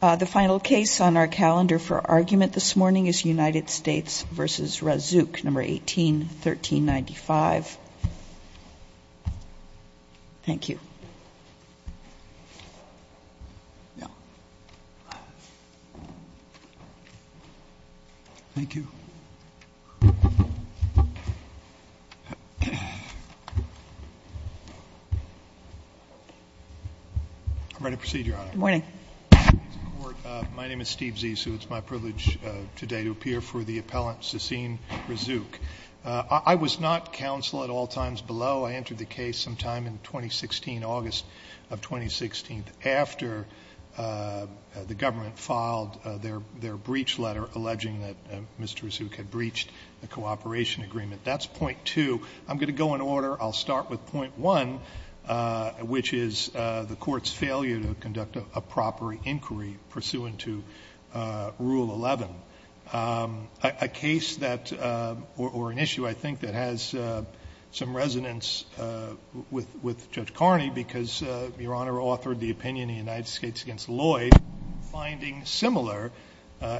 The final case on our calendar for argument this morning is United States v. Razzouk, No. 18-1395. Thank you. Thank you. I'm ready to proceed, Your Honor. Morning. My name is Steve Zissou. It's my privilege today to appear for the appellant, Sassine Razzouk. I was not counsel at all times below. I entered the case sometime in 2016, August of 2016, after the government filed their breach letter alleging that Mr. Razzouk had breached the cooperation agreement. That's point two. I'm going to go in order. I'll start with point one, which is the Court's failure to conduct a proper inquiry pursuant to Rule 11, a case that — or an issue, I think, that has some resonance with Judge Carney, because Your Honor authored the opinion in United States v. Lloyd, finding similar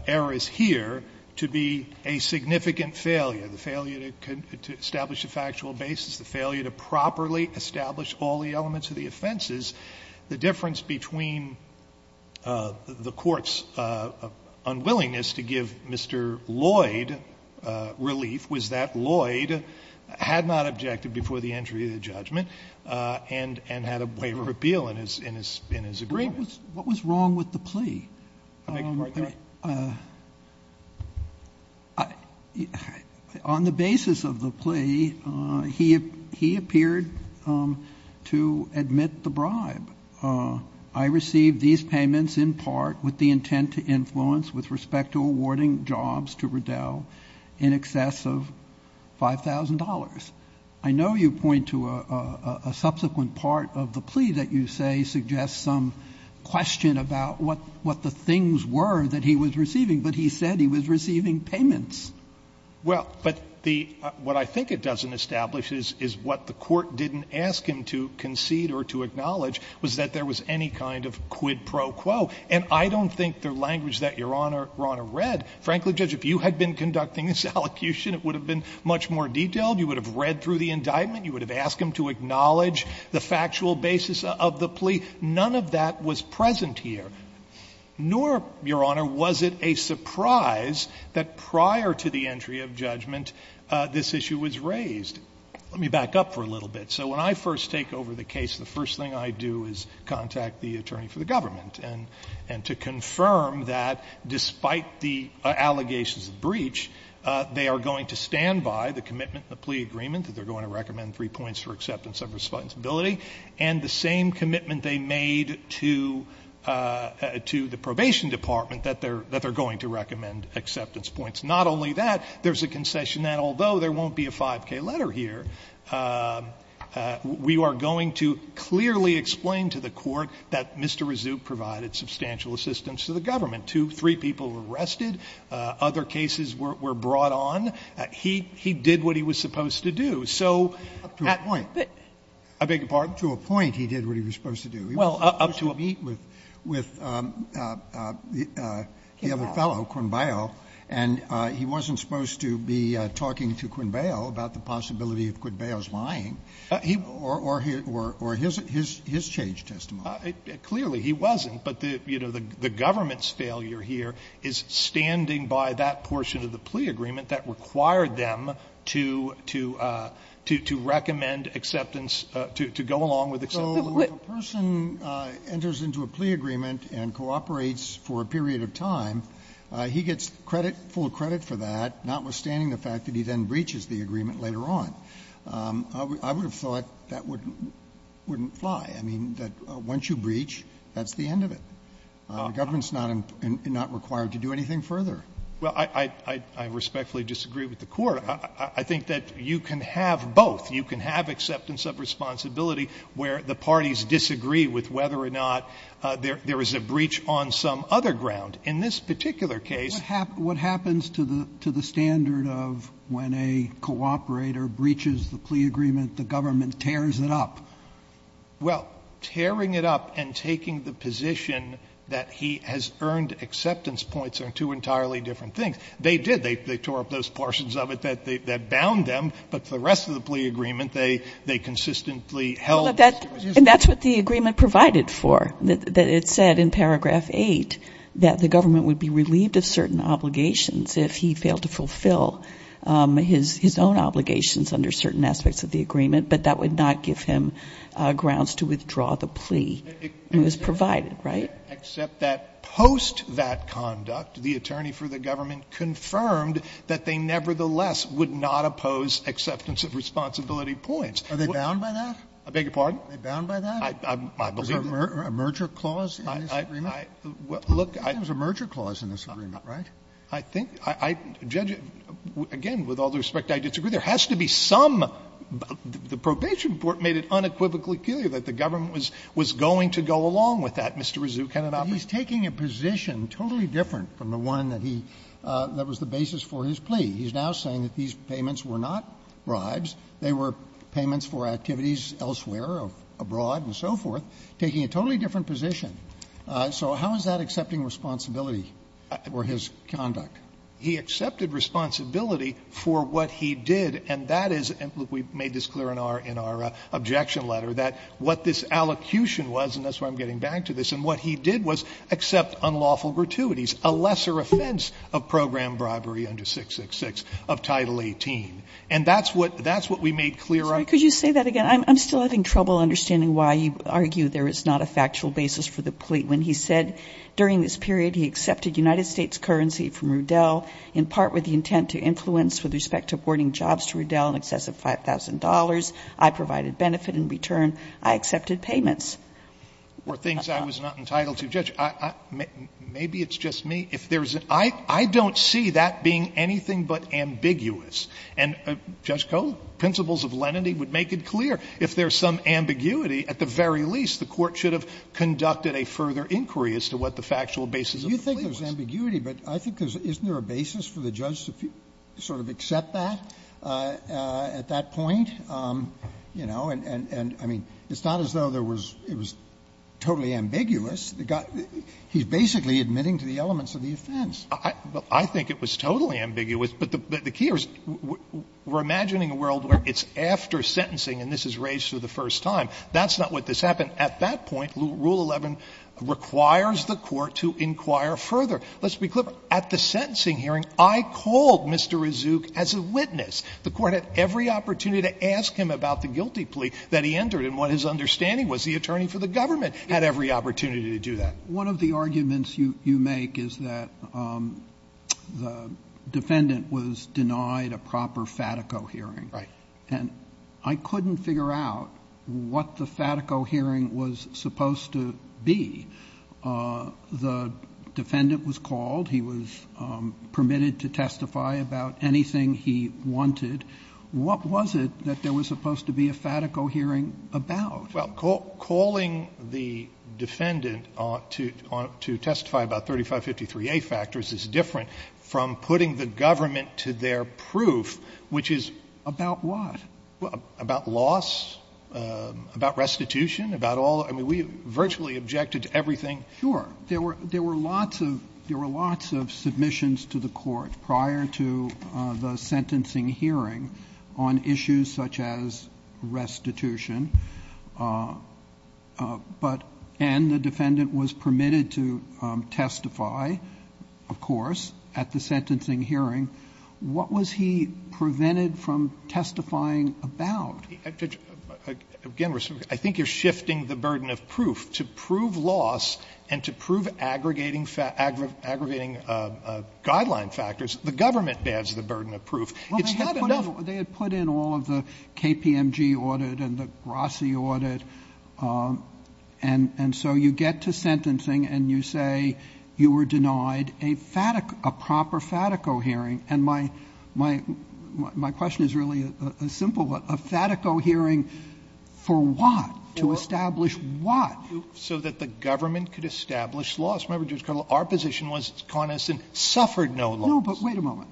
errors here to be a significant failure, the failure to establish a factual basis, the failure to properly establish all the elements of the offenses. The difference between the Court's unwillingness to give Mr. Lloyd relief was that Lloyd had not objected before the entry of the judgment and had a waiver of appeal in his agreement. What was wrong with the plea? I — on the basis of the plea, he appeared to admit the bribe. I received these payments in part with the intent to influence with respect to awarding jobs to Riddell in excess of $5,000. I know you point to a subsequent part of the plea that you say suggests some question about what the things were that he was receiving, but he said he was receiving payments. Well, but the — what I think it doesn't establish is what the Court didn't ask him to concede or to acknowledge was that there was any kind of quid pro quo. And I don't think the language that Your Honor read — frankly, Judge, if you had been more detailed, you would have read through the indictment, you would have asked him to acknowledge the factual basis of the plea. None of that was present here, nor, Your Honor, was it a surprise that prior to the entry of judgment, this issue was raised. Let me back up for a little bit. So when I first take over the case, the first thing I do is contact the attorney for the government and to confirm that despite the allegations of breach, they are going to stand by the commitment in the plea agreement that they're going to recommend three points for acceptance of responsibility, and the same commitment they made to the Probation Department that they're going to recommend acceptance points. Not only that, there's a concession that although there won't be a 5K letter here, we are going to clearly explain to the Court that Mr. Razzoup provided substantial assistance to the government. Two, three people were arrested. Other cases were brought on. He did what he was supposed to do. So — Up to a point. I beg your pardon? To a point, he did what he was supposed to do. He was supposed to meet with the other fellow, Quinbao, and he wasn't supposed to be talking to Quinbao about the possibility of Quinbao's lying, or his change testimony. Clearly, he wasn't, but the — you know, the government's failure here is standing by that portion of the plea agreement that required them to — to recommend acceptance — to go along with acceptance. So if a person enters into a plea agreement and cooperates for a period of time, he gets credit, full credit for that, notwithstanding the fact that he then breaches the agreement later on. I would have thought that wouldn't fly. I mean, that once you breach, that's the end of it. The government's not — not required to do anything further. Well, I respectfully disagree with the Court. I think that you can have both. You can have acceptance of responsibility where the parties disagree with whether or not there is a breach on some other ground. In this particular case — What happens to the standard of when a cooperator breaches the plea agreement, the government tears it up? Well, tearing it up and taking the position that he has earned acceptance points are two entirely different things. They did. They tore up those portions of it that bound them, but for the rest of the plea agreement, they consistently held that it was useful. And that's what the agreement provided for, that it said in paragraph 8 that the government would be relieved of certain obligations if he failed to fulfill his own obligations under certain aspects of the agreement, but that would not give him grounds to withdraw the plea. It was provided, right? Except that post that conduct, the attorney for the government confirmed that they nevertheless would not oppose acceptance of responsibility points. Are they bound by that? I beg your pardon? Are they bound by that? I believe that. Was there a merger clause in this agreement? Look, I — I think there was a merger clause in this agreement, right? I think — judge, again, with all due respect, I disagree. There has to be some — the probation court made it unequivocally clear that the government was going to go along with that, Mr. Razzucano. But he's taking a position totally different from the one that he — that was the basis for his plea. He's now saying that these payments were not bribes. They were payments for activities elsewhere, abroad and so forth, taking a totally different position. So how is that accepting responsibility for his conduct? He accepted responsibility for what he did, and that is — and we made this clear in our — in our objection letter, that what this allocution was, and that's where I'm getting back to this, and what he did was accept unlawful gratuities, a lesser offense of program bribery under 666 of Title 18. And that's what — that's what we made clear on. Sorry, could you say that again? I'm still having trouble understanding why you argue there is not a factual basis for the plea when he said during this period he accepted United States currency from Rudell in part with the intent to influence with respect to awarding jobs to Rudell in excess of $5,000. I provided benefit in return. I accepted payments. Or things I was not entitled to. Judge, I — maybe it's just me. If there's an — I don't see that being anything but ambiguous. And, Judge Kohl, principles of lenity would make it clear. If there's some ambiguity, at the very least, the Court should have conducted a further inquiry as to what the factual basis of the plea was. You think there's ambiguity, but I think there's — isn't there a basis for the judge to sort of accept that at that point? You know, and — and I mean, it's not as though there was — it was totally ambiguous. He's basically admitting to the elements of the offense. I think it was totally ambiguous, but the key is we're imagining a world where it's after sentencing and this is raised for the first time. That's not what just happened. But at that point, Rule 11 requires the Court to inquire further. Let's be clear. At the sentencing hearing, I called Mr. Rizuk as a witness. The Court had every opportunity to ask him about the guilty plea that he entered and what his understanding was. The attorney for the government had every opportunity to do that. One of the arguments you — you make is that the defendant was denied a proper Fatico hearing. Right. And I couldn't figure out what the Fatico hearing was supposed to be. The defendant was called. He was permitted to testify about anything he wanted. What was it that there was supposed to be a Fatico hearing about? Well, calling the defendant to testify about 3553A factors is different from putting the government to their proof, which is — About what? About loss, about restitution, about all — I mean, we virtually objected to everything. Sure. There were lots of submissions to the Court prior to the sentencing hearing on issues such as restitution. But — and the defendant was permitted to testify, of course, at the sentencing hearing. What was he prevented from testifying about? Again, Mr. Rizuk, I think you're shifting the burden of proof. To prove loss and to prove aggregating — aggregating guideline factors, the government bears the burden of proof. It's happened enough — They had put in all of the KPMG audit and the Grassi audit. And so you get to sentencing and you say you were denied a proper Fatico hearing. And my question is really a simple one. A Fatico hearing for what? To establish what? So that the government could establish loss. Remember, Judge Cudle, our position was Connison suffered no loss. No, but wait a moment.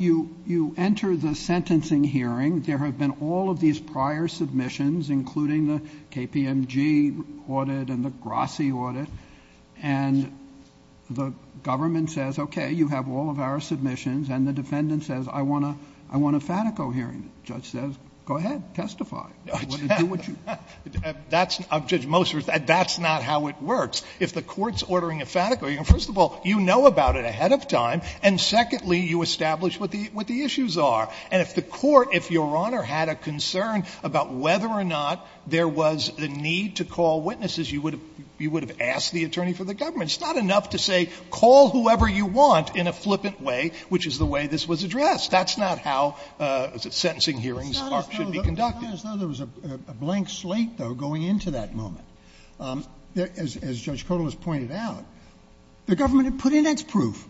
You — you enter the sentencing hearing. There have been all of these prior submissions, including the KPMG audit and the Grassi audit, and the government says, okay, you have all of our submissions. And the defendant says, I want a — I want a Fatico hearing. The judge says, go ahead, testify. Do what you — That's — Judge Moser, that's not how it works. If the Court's ordering a Fatico hearing, first of all, you know about it ahead of time, and secondly, you establish what the — what the issues are. And if the Court, if Your Honor had a concern about whether or not there was a need to call witnesses, you would have — you would have asked the attorney for the government. It's not enough to say, call whoever you want in a flippant way, which is the way this was addressed. That's not how sentencing hearings are — should be conducted. It's not as though there was a blank slate, though, going into that moment. As Judge Kotal has pointed out, the government had put in its proof.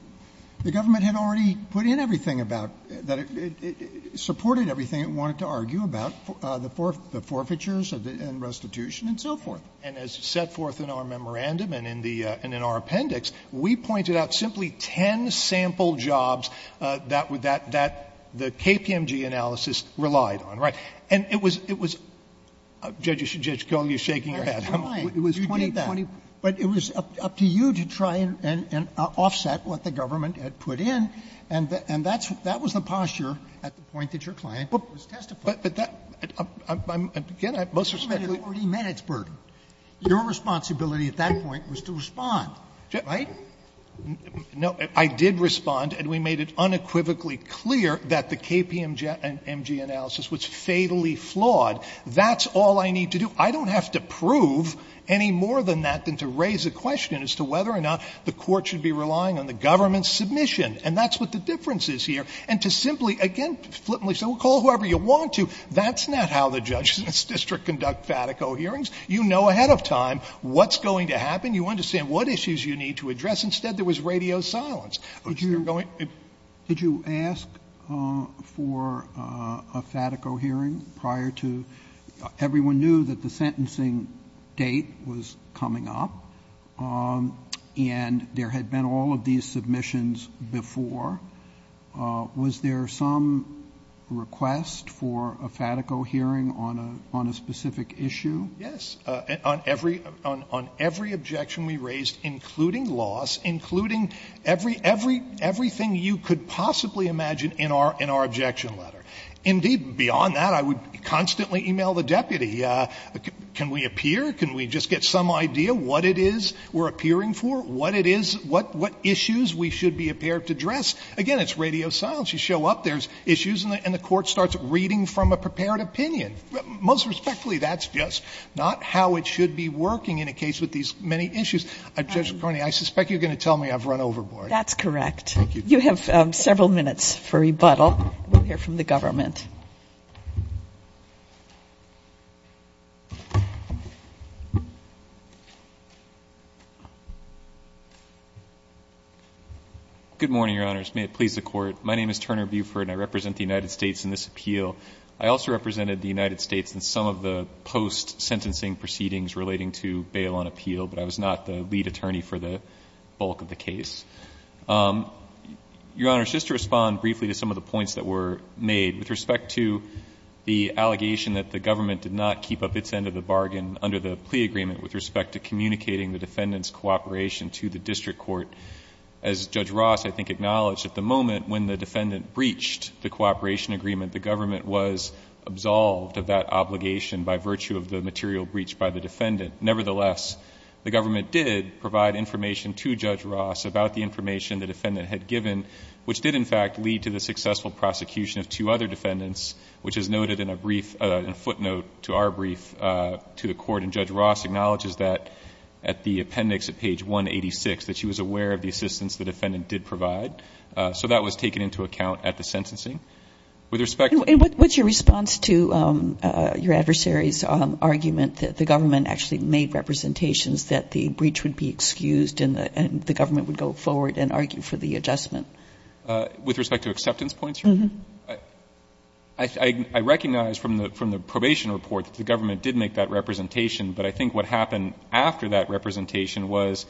The government had already put in everything about — that it — it supported everything it wanted to argue about, the forfeitures and restitution and so forth. And as set forth in our memorandum and in the — and in our appendix, we pointed out simply 10 sample jobs that — that the KPMG analysis relied on, right? And it was — it was — Judge Kotal, you're shaking your head. It was 20 — You did that. But it was up to you to try and — and offset what the government had put in. And that's — that was the posture at the point that your client was testifying. But that — again, I'm most — The government had already met its burden. Your responsibility at that point was to respond, right? No. I did respond, and we made it unequivocally clear that the KPMG analysis was fatally flawed. That's all I need to do. I don't have to prove any more than that than to raise a question as to whether or not the Court should be relying on the government's submission. And that's what the difference is here. And to simply, again, flippantly say, well, call whoever you want to, that's not how the Judges in this district conduct FATICO hearings. You know ahead of time what's going to happen. You understand what issues you need to address. Instead, there was radio silence. The sentencing date was coming up, and there had been all of these submissions before. Was there some request for a FATICO hearing on a specific issue? Yes. On every objection we raised, including loss, including everything you could possibly imagine in our objection letter. Indeed, beyond that, I would constantly email the deputy. Can we appear? Can we just get some idea what it is we're appearing for? What it is? What issues we should be prepared to address? Again, it's radio silence. You show up, there's issues, and the Court starts reading from a prepared opinion. Most respectfully, that's just not how it should be working in a case with these many issues. Judge McCarney, I suspect you're going to tell me I've run overboard. That's correct. Thank you. You have several minutes for rebuttal. We'll hear from the government. Good morning, Your Honors. May it please the Court. My name is Turner Buford, and I represent the United States in this appeal. I also represented the United States in some of the post-sentencing proceedings relating to bail on appeal, but I was not the lead attorney for the bulk of the case. Your Honors, just to respond briefly to some of the points that were made with respect to the allegation that the government did not keep up its end of the bargain under the plea agreement with respect to communicating the defendant's cooperation to the district court. As Judge Ross, I think, acknowledged at the moment when the defendant breached the cooperation agreement, the government was absolved of that obligation by virtue of the material breached by the defendant. Nevertheless, the government did provide information to Judge Ross about the information the defendant had given, which did, in fact, lead to the successful prosecution of two other defendants, which is noted in a footnote to our brief to the Court, and Judge Ross acknowledges that at the appendix at page 186, that she was aware of the assistance the defendant did provide. So that was taken into account at the sentencing. With respect to— The government actually made representations that the breach would be excused and the government would go forward and argue for the adjustment. With respect to acceptance points, Your Honor? Uh-huh. I recognize from the probation report that the government did make that representation, but I think what happened after that representation was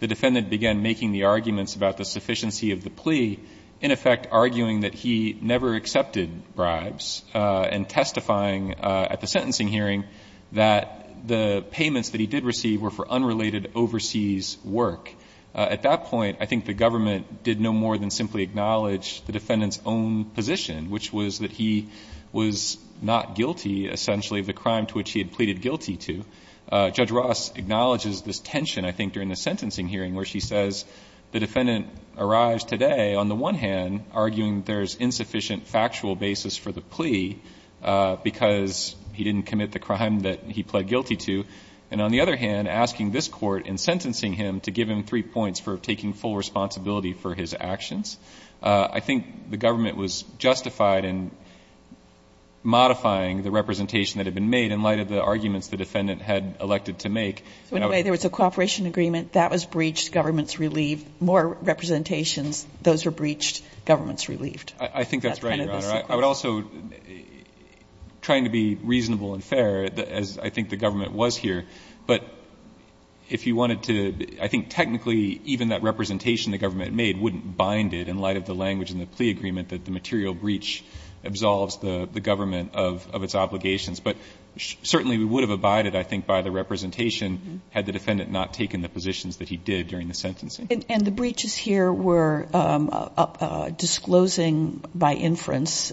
the defendant began making the arguments about the sufficiency of the plea, in effect arguing that he never accepted bribes, and testifying at the sentencing hearing that the payments that he did receive were for unrelated overseas work. At that point, I think the government did no more than simply acknowledge the defendant's own position, which was that he was not guilty, essentially, of the crime to which he had pleaded guilty to. Judge Ross acknowledges this tension, I think, during the sentencing hearing, where she says the defendant arrives today, on the one hand, arguing there's insufficient factual basis for the plea because he didn't commit the crime that he pled guilty to, and on the other hand, asking this Court in sentencing him to give him three points for taking full responsibility for his actions. I think the government was justified in modifying the representation that had been made in light of the arguments the defendant had elected to make. So, in a way, there was a cooperation agreement. That was breached. More representations. Those were breached. Government's relieved. I think that's right, Your Honor. I would also, trying to be reasonable and fair, as I think the government was here, but if you wanted to, I think technically, even that representation the government made wouldn't bind it in light of the language in the plea agreement that the material breach absolves the government of its obligations. But certainly, we would have abided, I think, by the representation had the defendant not taken the positions that he did during the sentencing. And the breaches here were disclosing by inference,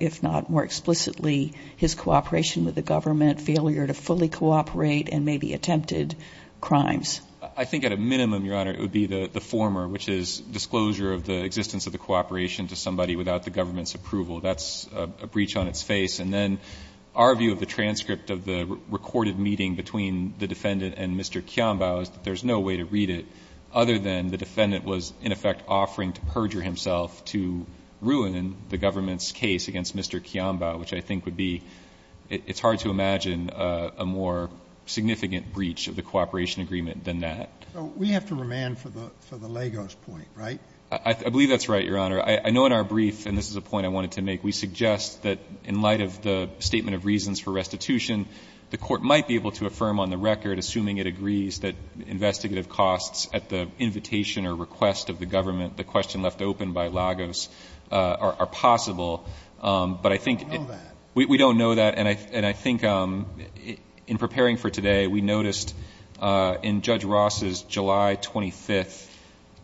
if not more explicitly, his cooperation with the government, failure to fully cooperate, and maybe attempted crimes. I think at a minimum, Your Honor, it would be the former, which is disclosure of the existence of the cooperation to somebody without the government's approval. That's a breach on its face. And then, our view of the transcript of the recorded meeting between the defendant and Mr. Kianbao is that there's no way to read it other than the defendant was, in effect, offering to perjure himself to ruin the government's case against Mr. Kianbao, which I think would be, it's hard to imagine a more significant breach of the cooperation agreement than that. So we have to remand for the Lagos point, right? I believe that's right, Your Honor. I know in our brief, and this is a point I wanted to make, we suggest that in light of the statement of reasons for restitution, the court might be able to affirm on the record, assuming it agrees, that investigative costs at the invitation or request of the government, the question left open by Lagos, are possible. But I think... We don't know that. We don't know that. And I think in preparing for today, we noticed in Judge Ross's July 25,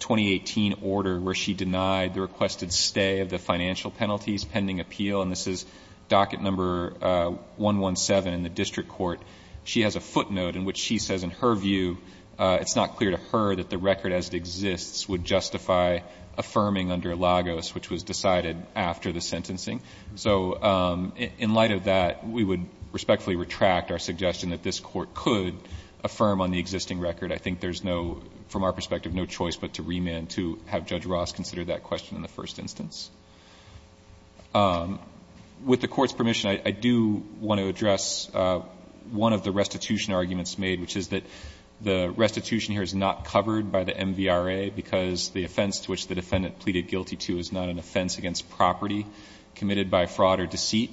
2018, order where she denied the requested stay of the financial penalties pending appeal, and this is docket number 117 in the district court, she has a footnote in which she says, in her view, it's not clear to her that the record as it exists would justify affirming under Lagos, which was decided after the sentencing. So in light of that, we would respectfully retract our suggestion that this court could affirm on the existing record. I think there's no, from our perspective, no choice but to remand to have Judge Ross consider that question in the first instance. With the Court's permission, I do want to address one of the restitution arguments made, which is that the restitution here is not covered by the MVRA because the offense to which the defendant pleaded guilty to is not an offense against property committed by fraud or deceit.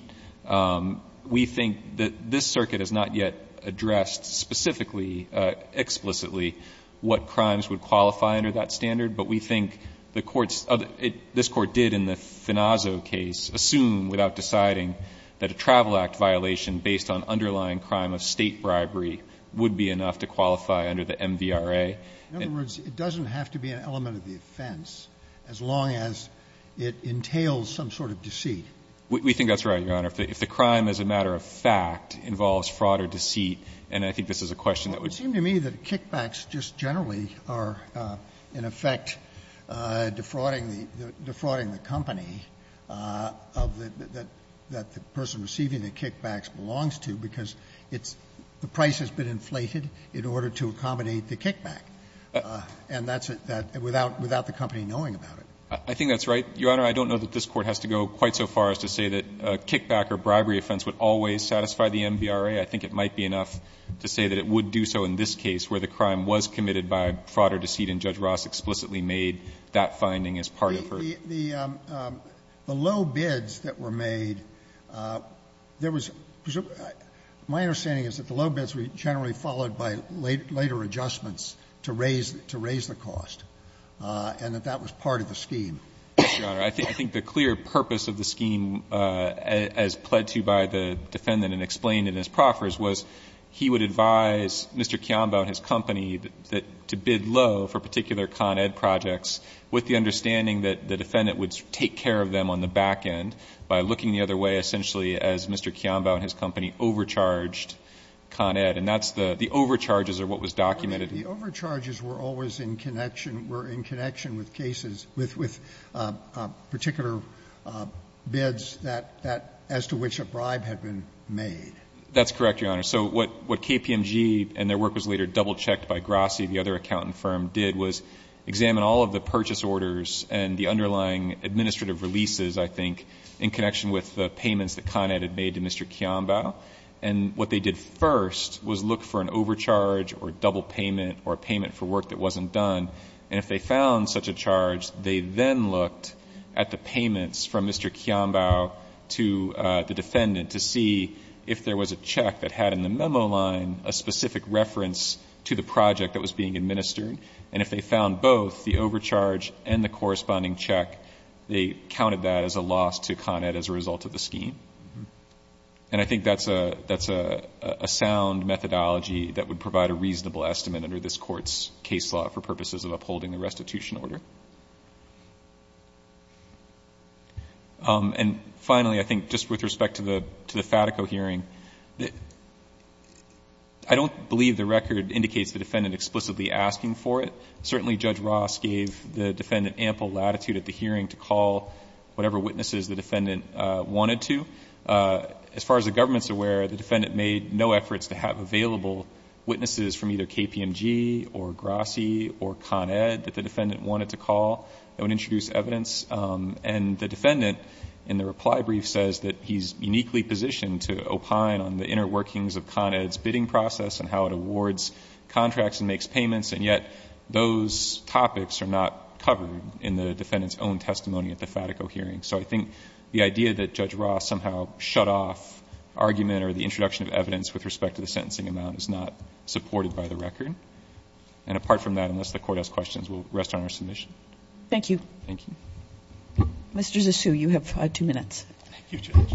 We think that this circuit has not yet addressed specifically, explicitly, what crimes would qualify under that standard, but we think the Court's other... this Court did in the Finazzo case assume, without deciding, that a travel act violation based on underlying crime of State bribery would be enough to qualify under the MVRA. In other words, it doesn't have to be an element of the offense as long as it entails some sort of deceit. We think that's right, Your Honor. If the crime, as a matter of fact, involves fraud or deceit, and I think this is a question that would... It would seem to me that kickbacks just generally are, in effect, defrauding the company that the person receiving the kickbacks belongs to, because it's the price has been inflated in order to accommodate the kickback, and that's without the company knowing about it. I think that's right, Your Honor. I don't know that this Court has to go quite so far as to say that a kickback or bribery offense would always satisfy the MVRA. I think it might be enough to say that it would do so in this case where the crime was committed by fraud or deceit, and Judge Ross explicitly made that finding as part of her. The low bids that were made, there was — my understanding is that the low bids were generally followed by later adjustments to raise the cost, and that that was part of the scheme. Yes, Your Honor. I think the clear purpose of the scheme, as pled to by the defendant and explained in his proffers, was he would advise Mr. Kionbao and his company to bid low for particular Con Ed projects with the understanding that the defendant would take care of them on the back end by looking the other way, essentially, as Mr. Kionbao and his company overcharged Con Ed. And that's the — the overcharges are what was documented. The overcharges were always in connection — were in connection with cases — with particular bids that — as to which a bribe had been made. That's correct, Your Honor. So what KPMG and their work was later double-checked by Grassi, the other accountant firm, did was examine all of the purchase orders and the underlying administrative releases, I think, in connection with the payments that Con Ed had made to Mr. Kionbao. And what they did first was look for an overcharge or double payment or payment for work that wasn't done. And if they found such a charge, they then looked at the payments from Mr. Kionbao to the defendant to see if there was a check that had in the memo line a specific reference to the project that was being administered. And if they found both, the overcharge and the corresponding check, they counted that as a loss to Con Ed as a result of the scheme. And I think that's a — that's a — a sound methodology that would provide a of upholding the restitution order. And finally, I think just with respect to the — to the Fatico hearing, I don't believe the record indicates the defendant explicitly asking for it. Certainly Judge Ross gave the defendant ample latitude at the hearing to call whatever witnesses the defendant wanted to. As far as the government's aware, the defendant made no efforts to have available witnesses from either KPMG or GRASI or Con Ed that the defendant wanted to call that would introduce evidence. And the defendant in the reply brief says that he's uniquely positioned to opine on the inner workings of Con Ed's bidding process and how it awards contracts and makes payments. And yet those topics are not covered in the defendant's own testimony at the Fatico hearing. So I think the idea that Judge Ross somehow shut off argument or the introduction of evidence with respect to the sentencing amount is not supported by the record. And apart from that, unless the Court has questions, we'll rest on our submission. Thank you. Thank you. Mr. Zissou, you have two minutes. Thank you, Judge.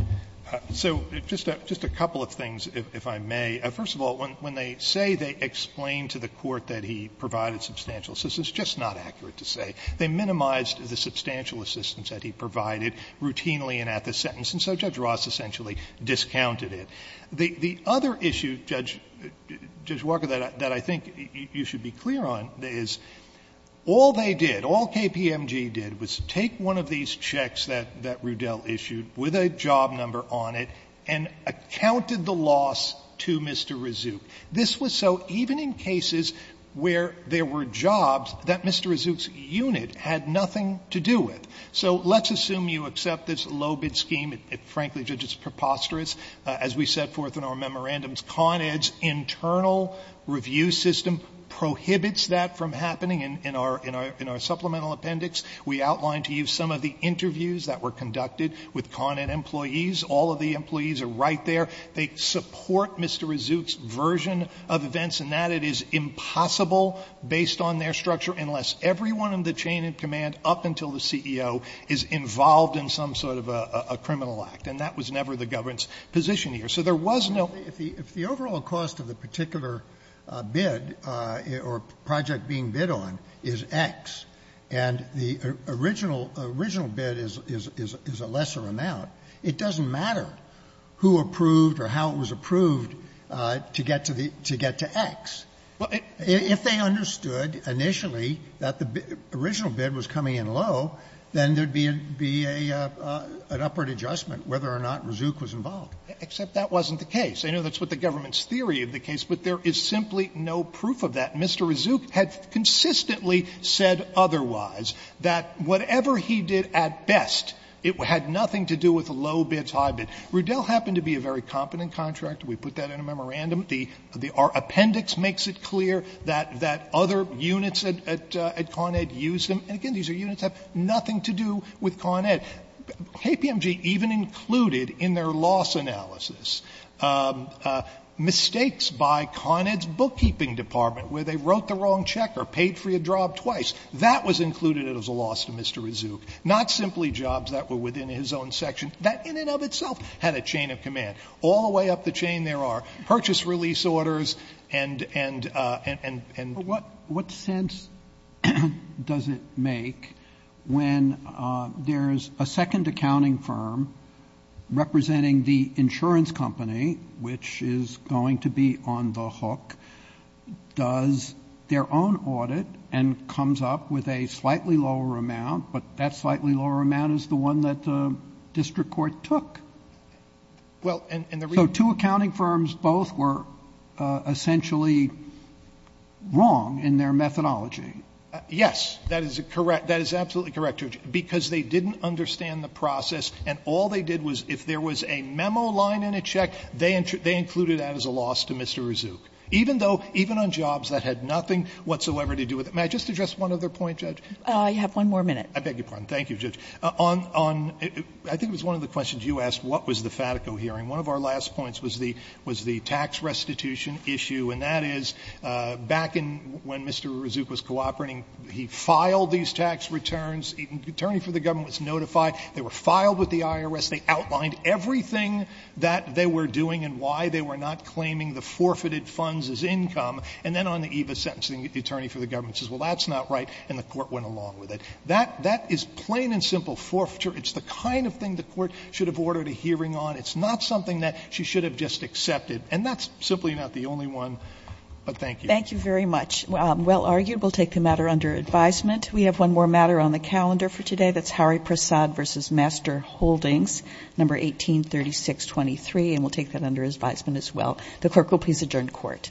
So just a — just a couple of things, if I may. First of all, when they say they explained to the Court that he provided substantial assistance, it's just not accurate to say. They minimized the substantial assistance that he provided routinely and at the sentence. And so Judge Ross essentially discounted it. The other issue, Judge Walker, that I think you should be clear on is all they did, all KPMG did was take one of these checks that Rudell issued with a job number on it and accounted the loss to Mr. Razzouk. This was so even in cases where there were jobs that Mr. Razzouk's unit had nothing to do with. So let's assume you accept this low-bid scheme. It — frankly, Judge, it's preposterous. As we set forth in our memorandums, Con Ed's internal review system prohibits that from happening. In our — in our supplemental appendix, we outlined to you some of the interviews that were conducted with Con Ed employees. All of the employees are right there. They support Mr. Razzouk's version of events in that it is impossible, based on their structure, unless everyone in the chain of command, up until the CEO, is involved in some sort of a criminal act. And that was never the government's position here. So there was no — Sotomayor, if the overall cost of the particular bid or project being bid on is X and the original bid is a lesser amount, it doesn't matter who approved or how it was approved to get to the — to get to X. If they understood initially that the original bid was coming in low, then there would be an upward adjustment whether or not Razzouk was involved. Except that wasn't the case. I know that's what the government's theory of the case, but there is simply no proof of that. Mr. Razzouk had consistently said otherwise, that whatever he did at best, it had nothing to do with low bids, high bids. Roudel happened to be a very competent contractor. We put that in a memorandum. The — our appendix makes it clear that other units at Con Ed use them. And again, these are units that have nothing to do with Con Ed. KPMG even included in their loss analysis mistakes by Con Ed's bookkeeping department where they wrote the wrong check or paid for your job twice. That was included as a loss to Mr. Razzouk, not simply jobs that were within his own section. That in and of itself had a chain of command. All the way up the chain there are purchase release orders and — So what difference does it make when there's a second accounting firm representing the insurance company, which is going to be on the hook, does their own audit and comes up with a slightly lower amount, but that slightly lower amount is the one that the district court took? Well, and the reason — So two accounting firms both were essentially wrong in their methodology. Yes. That is correct. That is absolutely correct, Judge, because they didn't understand the process and all they did was if there was a memo line in a check, they included that as a loss to Mr. Razzouk, even though — even on jobs that had nothing whatsoever to do with it. May I just address one other point, Judge? I have one more minute. I beg your pardon. Thank you, Judge. On — on — I think it was one of the questions you asked, what was the Fatico hearing. One of our last points was the — was the tax restitution issue, and that is, back in — when Mr. Razzouk was cooperating, he filed these tax returns, the attorney for the government was notified, they were filed with the IRS, they outlined everything that they were doing and why they were not claiming the forfeited funds as income, and then on the EVA sentencing, the attorney for the government says, well, that's not right, and the court went along with it. That — that is plain and simple forfeiture. It's the kind of thing the court should have ordered a hearing on. It's not something that she should have just accepted. And that's simply not the only one, but thank you. Thank you very much. Well argued. We'll take the matter under advisement. We have one more matter on the calendar for today. That's Harry Prasad v. Master Holdings, No. 183623, and we'll take that under advisement as well. The clerk will please adjourn court. Court is adjourned.